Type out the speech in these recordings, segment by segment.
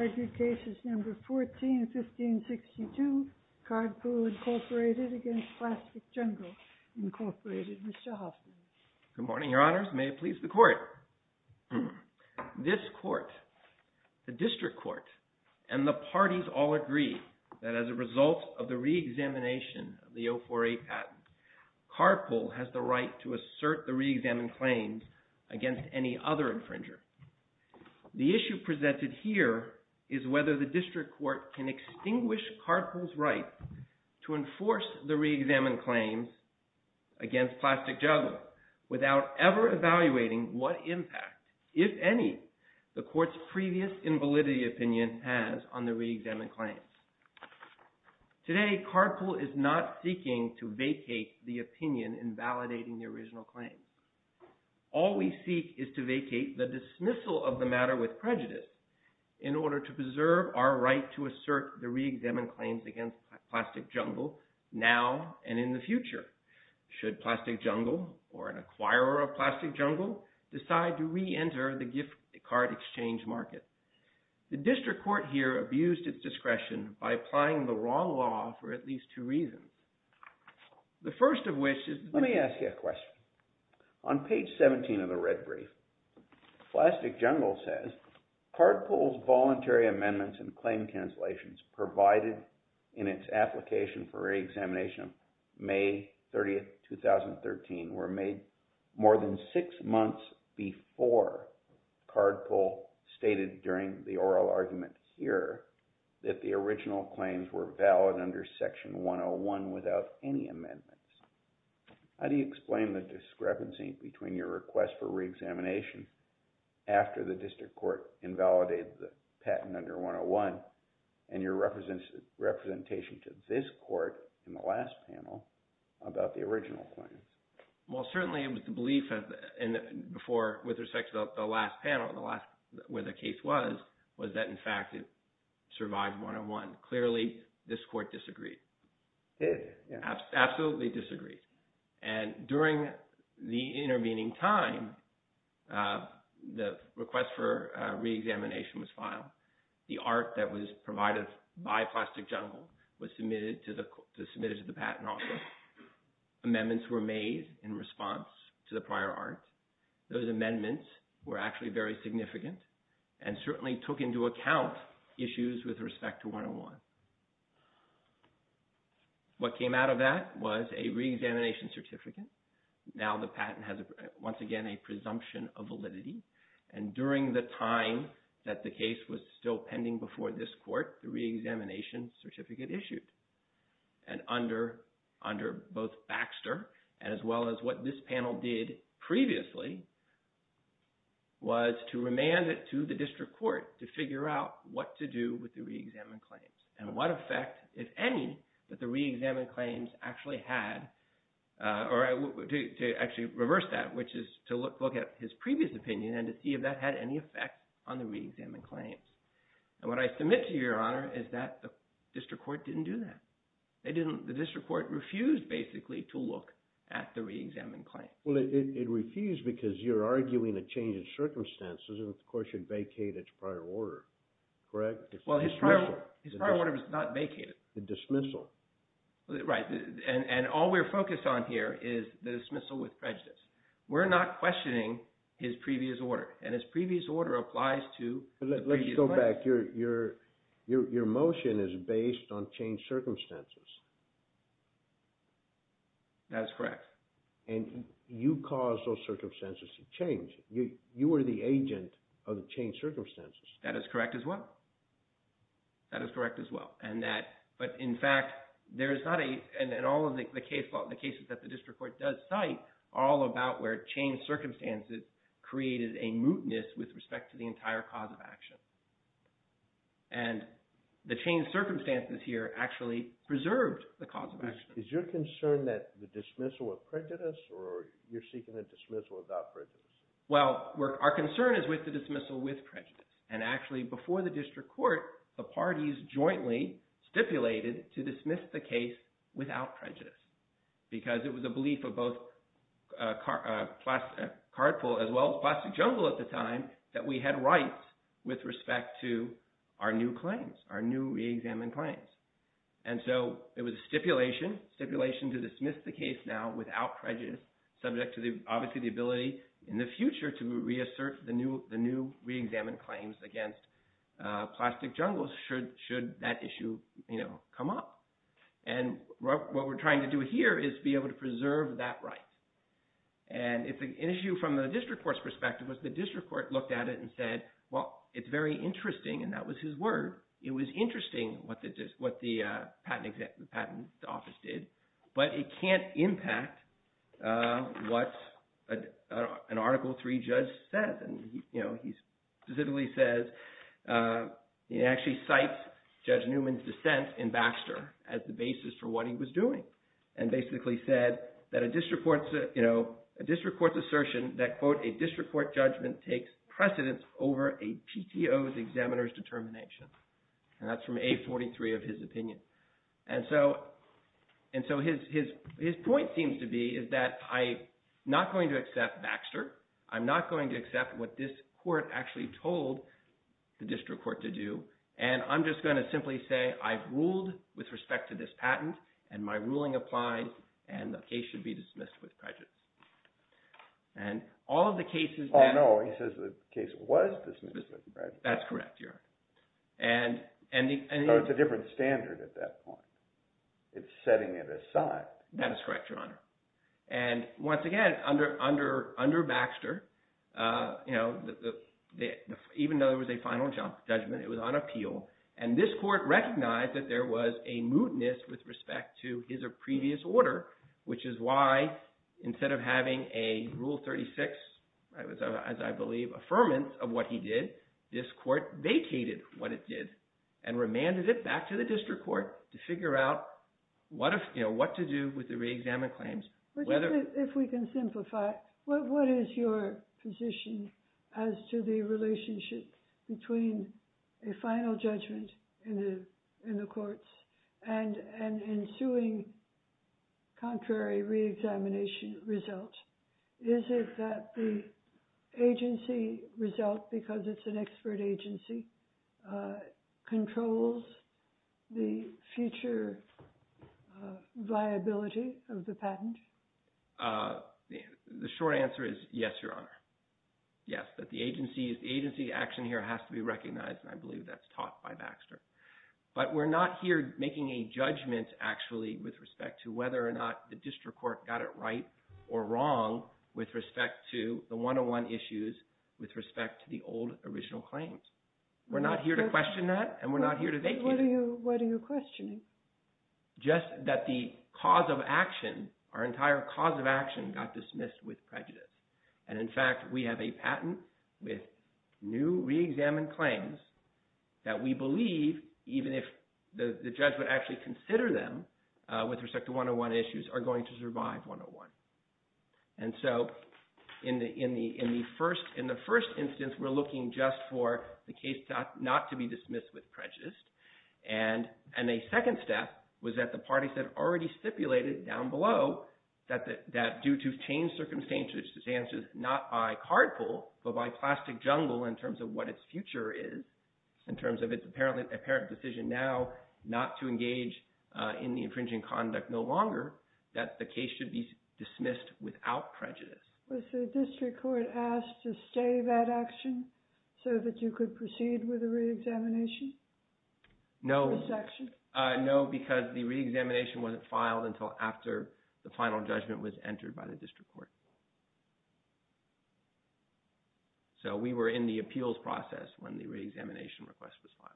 Mr. Hoffman. Good morning, Your Honors. May it please the Court. This Court, the District Court, and the parties all agree that as a result of the reexamination of the 048 patent, Carpool has the right to assert the reexamined claims against any other infringer. The issue presented here is whether the District Court can extinguish Carpool's right to enforce the reexamined claims against Plastic Jungle without ever evaluating what impact, if any, the Court's previous invalidity opinion has on the reexamined claims. Today, Carpool is not seeking to vacate the opinion in validating the original claims. All we seek is to vacate the dismissal of the matter with prejudice in order to preserve our right to assert the reexamined claims against Plastic Jungle now and in the future, should Plastic Jungle or an acquirer of Plastic Jungle decide to reenter the gift card exchange market. The District Court here abused its discretion by applying the wrong law for at least two reasons. The Plastic Jungle says, Cardpool's voluntary amendments and claim cancellations provided in its application for reexamination of May 30, 2013 were made more than six months before Cardpool stated during the oral argument here that the original claims were valid under Section 101 without any amendments. How do you explain the discrepancy between your request for reexamination after the District Court invalidated the patent under 101 and your representation to this Court in the last panel about the original claims? Well, certainly, it was the belief before with respect to the last panel, where the case was, was that, in fact, it survived 101. Clearly, this Court disagreed. Absolutely disagreed. And during the intervening time, the request for reexamination was filed. The art that was provided by Plastic Jungle was submitted to the patent office. Amendments were made in response to the prior art. Those amendments were actually very significant and certainly took into account issues with respect to 101. What came out of that was a reexamination certificate. Now the patent has, once again, a presumption of validity. And during the time that the case was still pending before this Court, the reexamination certificate issued. And under, under both Baxter, as well as what this panel did previously, was to remand it to the District Court to figure out what to do with the reexamined claims and what effect, if any, that the reexamined claims actually had, or to actually reverse that, which is to look at his previous opinion and to see if that had any effect on the reexamined claims. And what I submit to Your Honor is that the District Court didn't do that. They didn't, the District Court refused, basically, to look at the reexamined claims. Well, it refused because you're arguing a change in circumstances and, of course, you'd vacate its prior order, correct? Well, his prior order was not vacated. The dismissal. Right. And all we're focused on here is the dismissal with prejudice. We're not questioning his previous order. And his previous order applies to the previous claim. But let's go back. Your motion is based on changed circumstances. That is correct. And you caused those circumstances to change. You were the agent of the changed circumstances. That is correct, as well. That is correct, as well. And that, all about where changed circumstances created a mootness with respect to the entire cause of action. And the changed circumstances here actually preserved the cause of action. Is your concern that the dismissal with prejudice, or you're seeking a dismissal without prejudice? Well, our concern is with the dismissal with prejudice. And actually, before the District Court, the parties jointly stipulated to dismiss the case without prejudice because it was a belief of both Cardpool, as well as Plastic Jungle at the time, that we had rights with respect to our new claims, our new reexamined claims. And so it was a stipulation, stipulation to dismiss the case now without prejudice, subject to, obviously, the ability in the future to reassert the new reexamined claims against Plastic Jungle should that issue come up. And what we're trying to do here is be able to preserve that right. And it's an issue from the District Court's perspective, was the District Court looked at it and said, well, it's very interesting, and that was his word. It was interesting what the patent office did, but it can't impact what an Article III judge says. And he specifically says, he actually cites Judge Newman's dissent in Baxter as the basis for what he was doing, and basically said that a District Court's assertion that, quote, a District Court judgment takes precedence over a PTO's examiner's determination. And that's from A43 of his opinion. And so his point seems to be is that I'm not going to accept Baxter. I'm not going to accept what this court actually told the District Court to do. And I'm just going to simply say I've ruled with respect to this patent, and my ruling applied, and the case should be dismissed with prejudice. And all of the cases that- Oh, no. He says the case was dismissed with prejudice. That's correct, Your Honor. And- So it's a different standard at that point. It's setting it aside. That is correct, Your Honor. And once again, under Baxter, even though there was a final judgment, it was on appeal. And this court recognized that there was a mootness with respect to his previous order, which is why instead of having a Rule 36, as I believe, affirmance of what he did, this court vacated what it did and remanded it back to the District Court to figure out what to do with the reexamined claims. If we can simplify, what is your position as to the relationship between a final judgment in the courts and an ensuing contrary reexamination result? Is it that the future viability of the patent? The short answer is yes, Your Honor. Yes, that the agency action here has to be recognized, and I believe that's taught by Baxter. But we're not here making a judgment, actually, with respect to whether or not the District Court got it right or wrong with respect to the 101 issues with respect to the old original claims. We're not here to question that, and we're not here to vacate it. What are you questioning? Just that the cause of action, our entire cause of action, got dismissed with prejudice. And in fact, we have a patent with new reexamined claims that we believe, even if the judge would actually consider them with respect to 101 issues, are going to survive 101. And so in the first instance, we're looking just for the case not to be dismissed with prejudice. And a second step was that the parties had already stipulated down below that due to changed circumstances, not by card pool, but by plastic jungle in terms of what its future is, in terms of its apparent decision now not to engage in the infringing conduct no longer, that the case should be dismissed without prejudice. Was the District Court asked to stay that action so that you could proceed with the reexamination? No, because the reexamination wasn't filed until after the final judgment was entered by the District Court. So we were in the appeals process when the reexamination request was filed.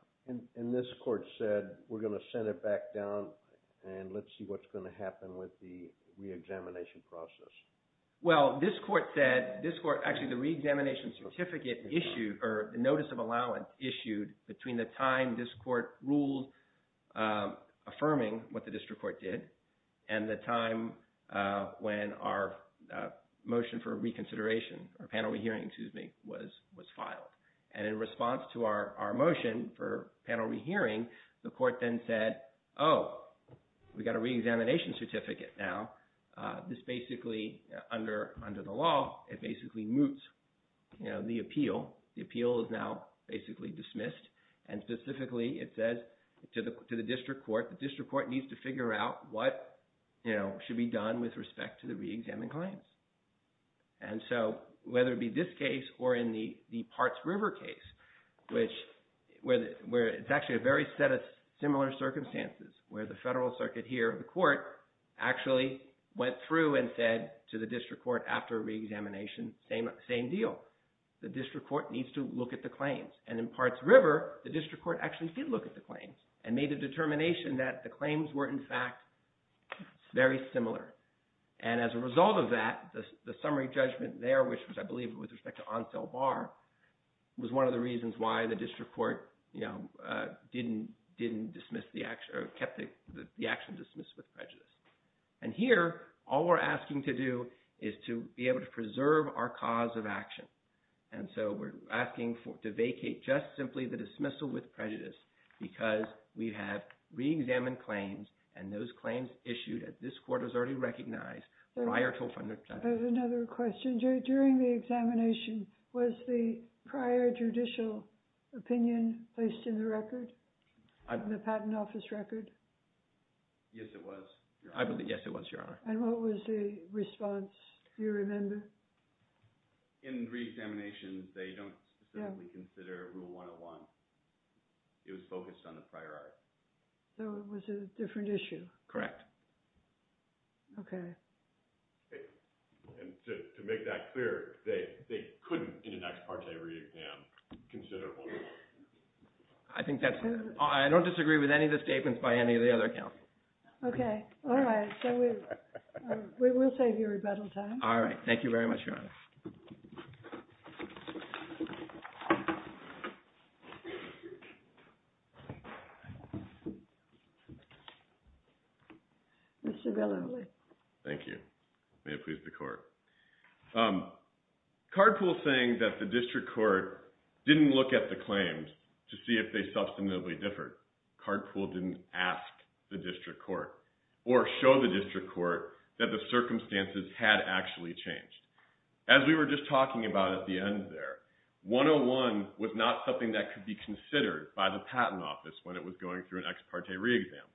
And this court said, we're going to send it back down, and let's see what's going to happen with the reexamination process. Well, this court said, this court, actually the reexamination certificate issued, or the notice of allowance issued between the time this court ruled affirming what the District Court did, and the time when our motion for reconsideration, or panel re-hearing, excuse me, was filed. And in response to our motion for panel re-hearing, the court then said, oh, we got a reexamination certificate now. This basically, under the law, it basically moots the appeal. The appeal is now basically dismissed. And specifically, it says to the District Court, the District Court needs to figure out what should be done with respect to the reexamined claims. And so whether it be this case or in the Parts River case, where it's actually a very similar circumstances, where the Federal Circuit here, the court, actually went through and said to the District Court after reexamination, same deal. The District Court needs to look at the claims. And in Parts River, the District Court actually did look at the claims, and made a determination that the claims were, in fact, very similar. And as a result of that, the summary judgment there, which was, I believe, with respect to Ansel Barr, was one of the reasons why the District Court didn't dismiss the action, or kept the action dismissed with prejudice. And here, all we're asking to do is to be able to preserve our cause of action. And so we're asking to vacate just simply the dismissal with prejudice, because we have reexamined claims, and those claims issued at this court was already recognized prior to a fundamental judgment. Another question. During the examination, was the prior judicial opinion placed in the record? The Patent Office record? Yes, it was, Your Honor. I believe, yes, it was, Your Honor. And what was the response? Do you remember? In reexamination, they don't specifically consider Rule 101. It was focused on the prior art. So it was a different issue? Correct. Okay. And to make that clear, they couldn't, in an ex parte reexam, consider Rule 101. I think that's all. I don't disagree with any of the statements by any of the other counsel. Okay. All right. So we'll save you rebuttal time. All right. Thank you very much, Your Honor. Mr. Bill O'Leary. Thank you. May it please the Court. Cardpool's saying that the District Court didn't look at the claims to see if they substantively differed. Cardpool didn't ask the District Court or show the District Court that the circumstances had actually changed. As we were just talking about at the end there, 101 was not something that could be considered by the Patent Office when it was going through an ex parte reexam.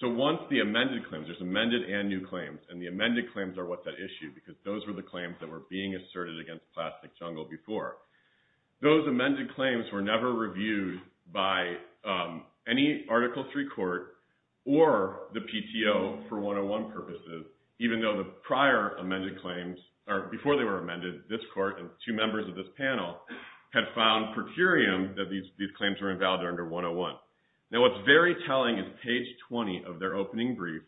So once the amended claims, there's amended and new claims, and the amended claims are what's at issue because those were the claims that were being asserted against Plastic Jungle before. Those amended claims were never reviewed by any Article III court or the PTO for 101 purposes, even though the prior amended claims, or before they were amended, this court and two members of this panel had found per curiam that these page 20 of their opening brief,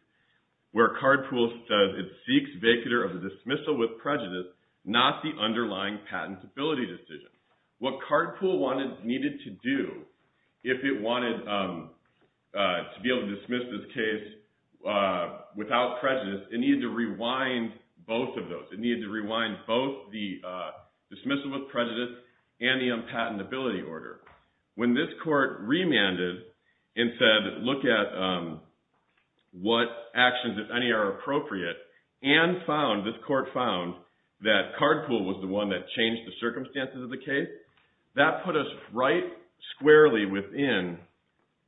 where Cardpool says it seeks vacater of the dismissal with prejudice, not the underlying patentability decision. What Cardpool needed to do if it wanted to be able to dismiss this case without prejudice, it needed to rewind both of those. It needed to rewind both the dismissal with prejudice and the unpatentability order. When this court remanded and said, look at what actions, if any, are appropriate, and found, this court found, that Cardpool was the one that changed the circumstances of the case, that put us right squarely within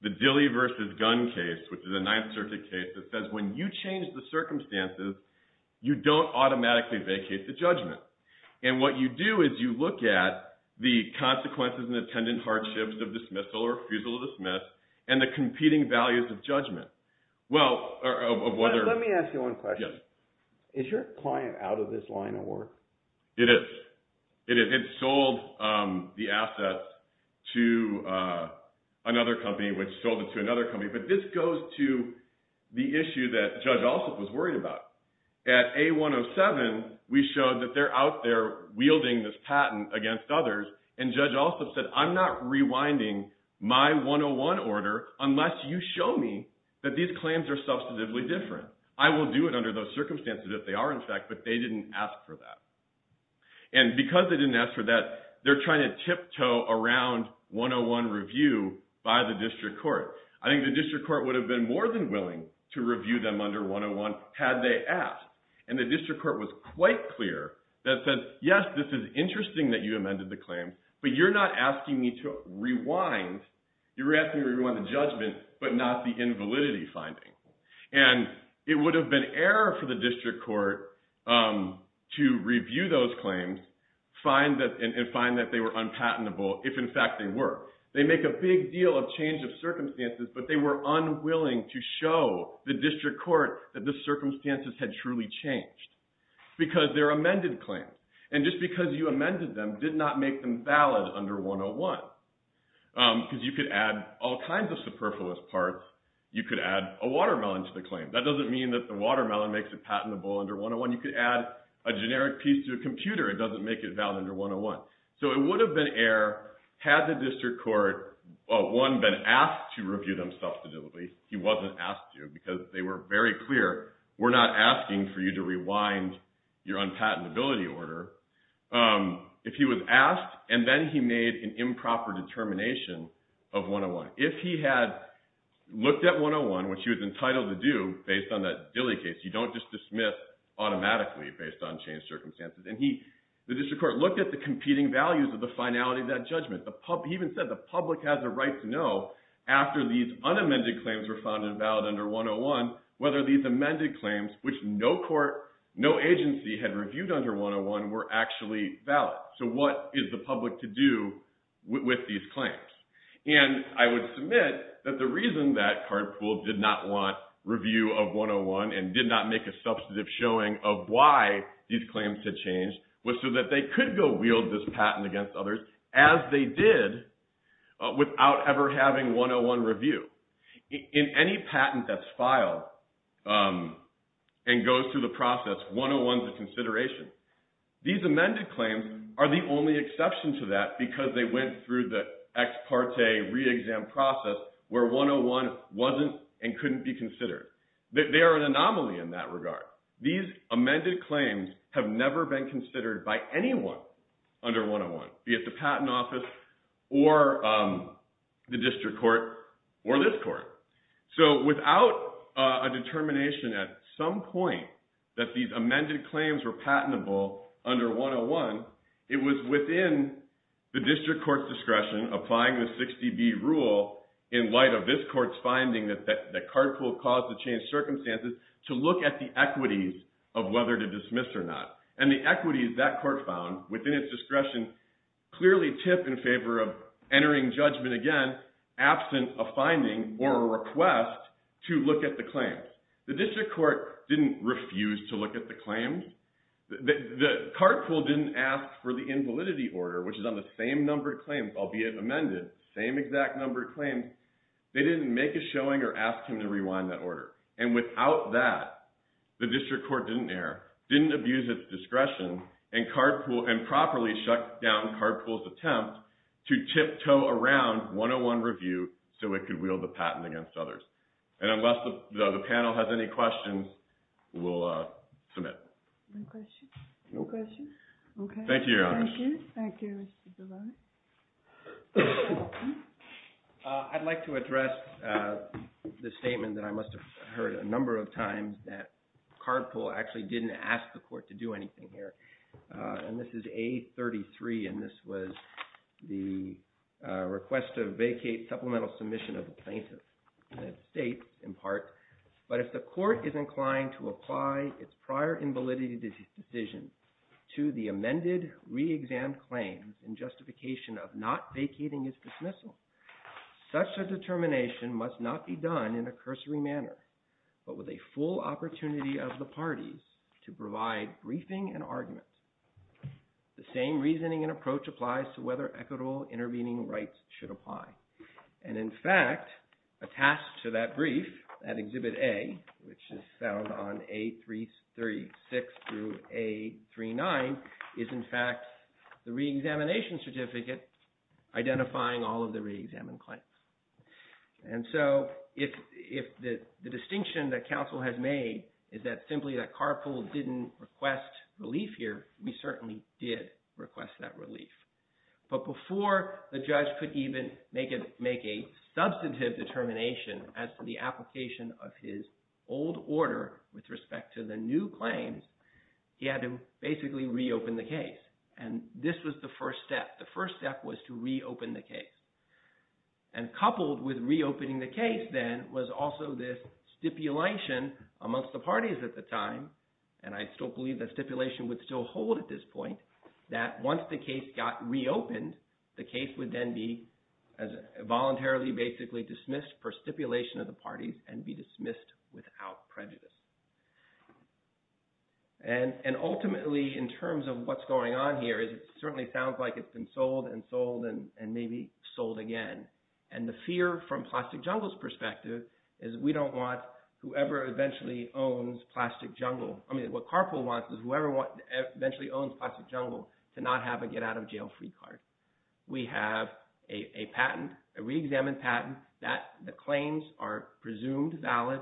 the Dilley versus Gunn case, which is a Ninth Circuit case that says when you change the circumstances, you don't automatically vacate the judgment. What you do is you look at the consequences and attendant hardships of dismissal or refusal to dismiss, and the competing values of judgment. Let me ask you one question. Yes. Is your client out of this line of work? It is. It sold the assets to another company, which sold it to another company, but this goes to the issue that Judge Alsup was worried about. At A107, we showed that they're out there wielding this patent against others, and Judge Alsup said, I'm not rewinding my 101 order unless you show me that these claims are substantively different. I will do it under those circumstances if they are, in fact, but they didn't ask for that. Because they didn't ask for that, they're trying to tiptoe around 101 review by the district court. I think the district court would have been more than willing to review them under 101 had they asked, and the district court was quite clear that says, yes, this is interesting that you amended the claim, but you're not asking me to rewind. You're asking me to rewind the judgment, but not the invalidity finding. It would have been error for the district court to review those claims and find that they were unpatentable if, in fact, they were. They make a big deal of change of circumstances, but they were unwilling to show the district court that the circumstances had truly changed because they're amended claims. Just because you amended them did not make them valid under 101. Because you could add all kinds of superfluous parts. You could add a watermelon to the claim. That doesn't mean that the watermelon makes it patentable under 101. You could add a generic piece to a computer. It doesn't make it valid under 101. It would have been error had the district court, one, been asked to review them substantively. He wasn't asked to because they were very clear. We're not asking for you to rewind your unpatentability order. If he was asked and then he made an improper determination of 101. If he had looked at 101, which he was entitled to do based on that Dilley case, you don't just dismiss automatically based on changed circumstances. The district court looked at the competing values of the finality of that judgment. He even said the public has a right to know after these unamended claims were found invalid under 101 whether these amended claims, which no agency had reviewed under 101, were actually valid. What is the public to do with these claims? I would submit that the reason that Cardpool did not want review of 101 and did not make a substantive showing of why these claims had changed was so that they could go wield this patent against others as they did without ever having 101 reviewed. In any patent that's filed and goes through the process, 101 is a consideration. These amended claims are the only exception to that because they went through the ex parte re-exam process where 101 wasn't and couldn't be considered. They are an anomaly in that regard. These amended claims have never been considered by anyone under 101, be it the patent office or the district court or this court. Without a determination at some point that these amended claims were patentable under 101, it was within the district court's discretion applying the 60B rule in light of this court's finding that Cardpool caused the changed circumstances to look at the equities of whether to dismiss or not. The equities that court found within its discretion clearly tip in favor of entering judgment again, absent a finding or a request to look at the claims. The district court didn't refuse to look at the claims. The Cardpool didn't ask for the invalidity order, which is on the same number of claims, albeit amended, same exact number of claims. They didn't make a showing or ask him to rewind that order. Without that, the district court didn't err, didn't abuse its discretion, and properly shut down Cardpool's attempt to tiptoe around 101 review so it could wield the patent against others. Unless the panel has any questions, we'll submit. No questions? No questions? Okay. Thank you, Your Honor. Thank you. Thank you, Mr. Devane. I'd like to address the statement that I must have heard a number of times that Cardpool actually didn't ask the court to do anything here. And this is A33, and this was the request to vacate supplemental submission of the plaintiff, and it states, in part, but if the court is inclined to decision to the amended re-exam claims in justification of not vacating its dismissal, such a determination must not be done in a cursory manner, but with a full opportunity of the parties to provide briefing and arguments. The same reasoning and approach applies to whether equitable intervening rights should apply. And in fact, attached to that brief, that Exhibit A, which is found on A36 through A39, is in fact the re-examination certificate identifying all of the re-examined claims. And so, if the distinction that counsel has made is that simply that Cardpool didn't request relief here, we certainly did request that relief. But before the judge could even make a substantive determination as to the application of his old order with respect to the new claims, he had to basically reopen the case. And this was the first step. The first step was to reopen the case. And coupled with reopening the case then was also this stipulation amongst the parties at the time, and I still believe that stipulation would still hold at this point, that once the case got reopened, the case would then be voluntarily basically dismissed per stipulation of the parties and be dismissed without prejudice. And ultimately, in terms of what's going on here, it certainly sounds like it's been sold and sold and maybe sold again. And the fear from Plastic Jungle's perspective is we don't want whoever eventually owns Plastic Jungle, I mean, what Cardpool wants is whoever eventually owns Plastic Jungle, that the claims are presumed valid.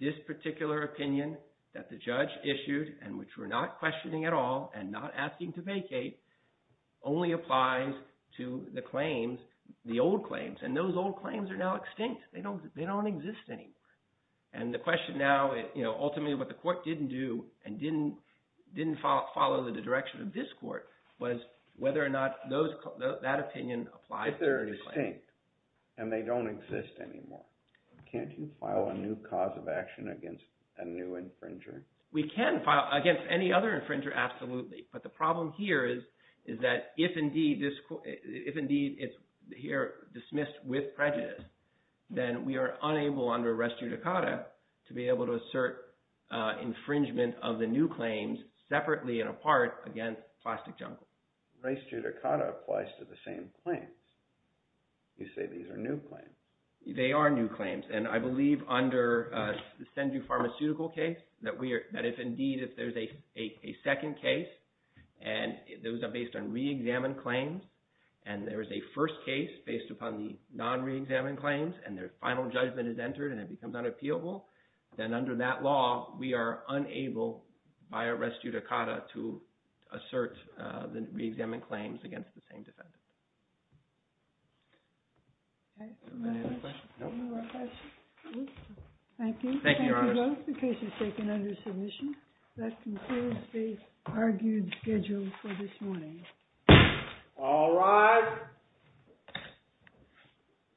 This particular opinion that the judge issued, and which we're not questioning at all and not asking to vacate, only applies to the claims, the old claims. And those old claims are now extinct. They don't exist anymore. And the question now, ultimately what the court didn't do and didn't follow the direction of this court was whether or not that opinion applies. If they're extinct and they don't exist anymore, can't you file a new cause of action against a new infringer? We can file against any other infringer, absolutely. But the problem here is that if indeed it's here dismissed with prejudice, then we are unable under res judicata to be able to assert infringement of the new claims separately and apart against Plastic Jungle. Res judicata applies to the same claims. You say these are new claims. They are new claims. And I believe under the SendU Pharmaceutical case, that if indeed if there's a second case, and those are based on reexamined claims, and there is a first case based upon the non-reexamined claims, and their final to assert the reexamined claims against the same defendant. Thank you. Thank you both. The case is taken under submission. That concludes the argued schedule for this morning. All rise.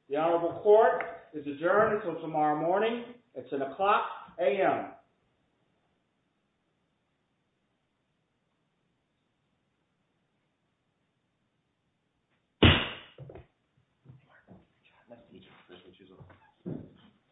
The Honorable Court is adjourned until tomorrow morning. It's an o'clock a.m.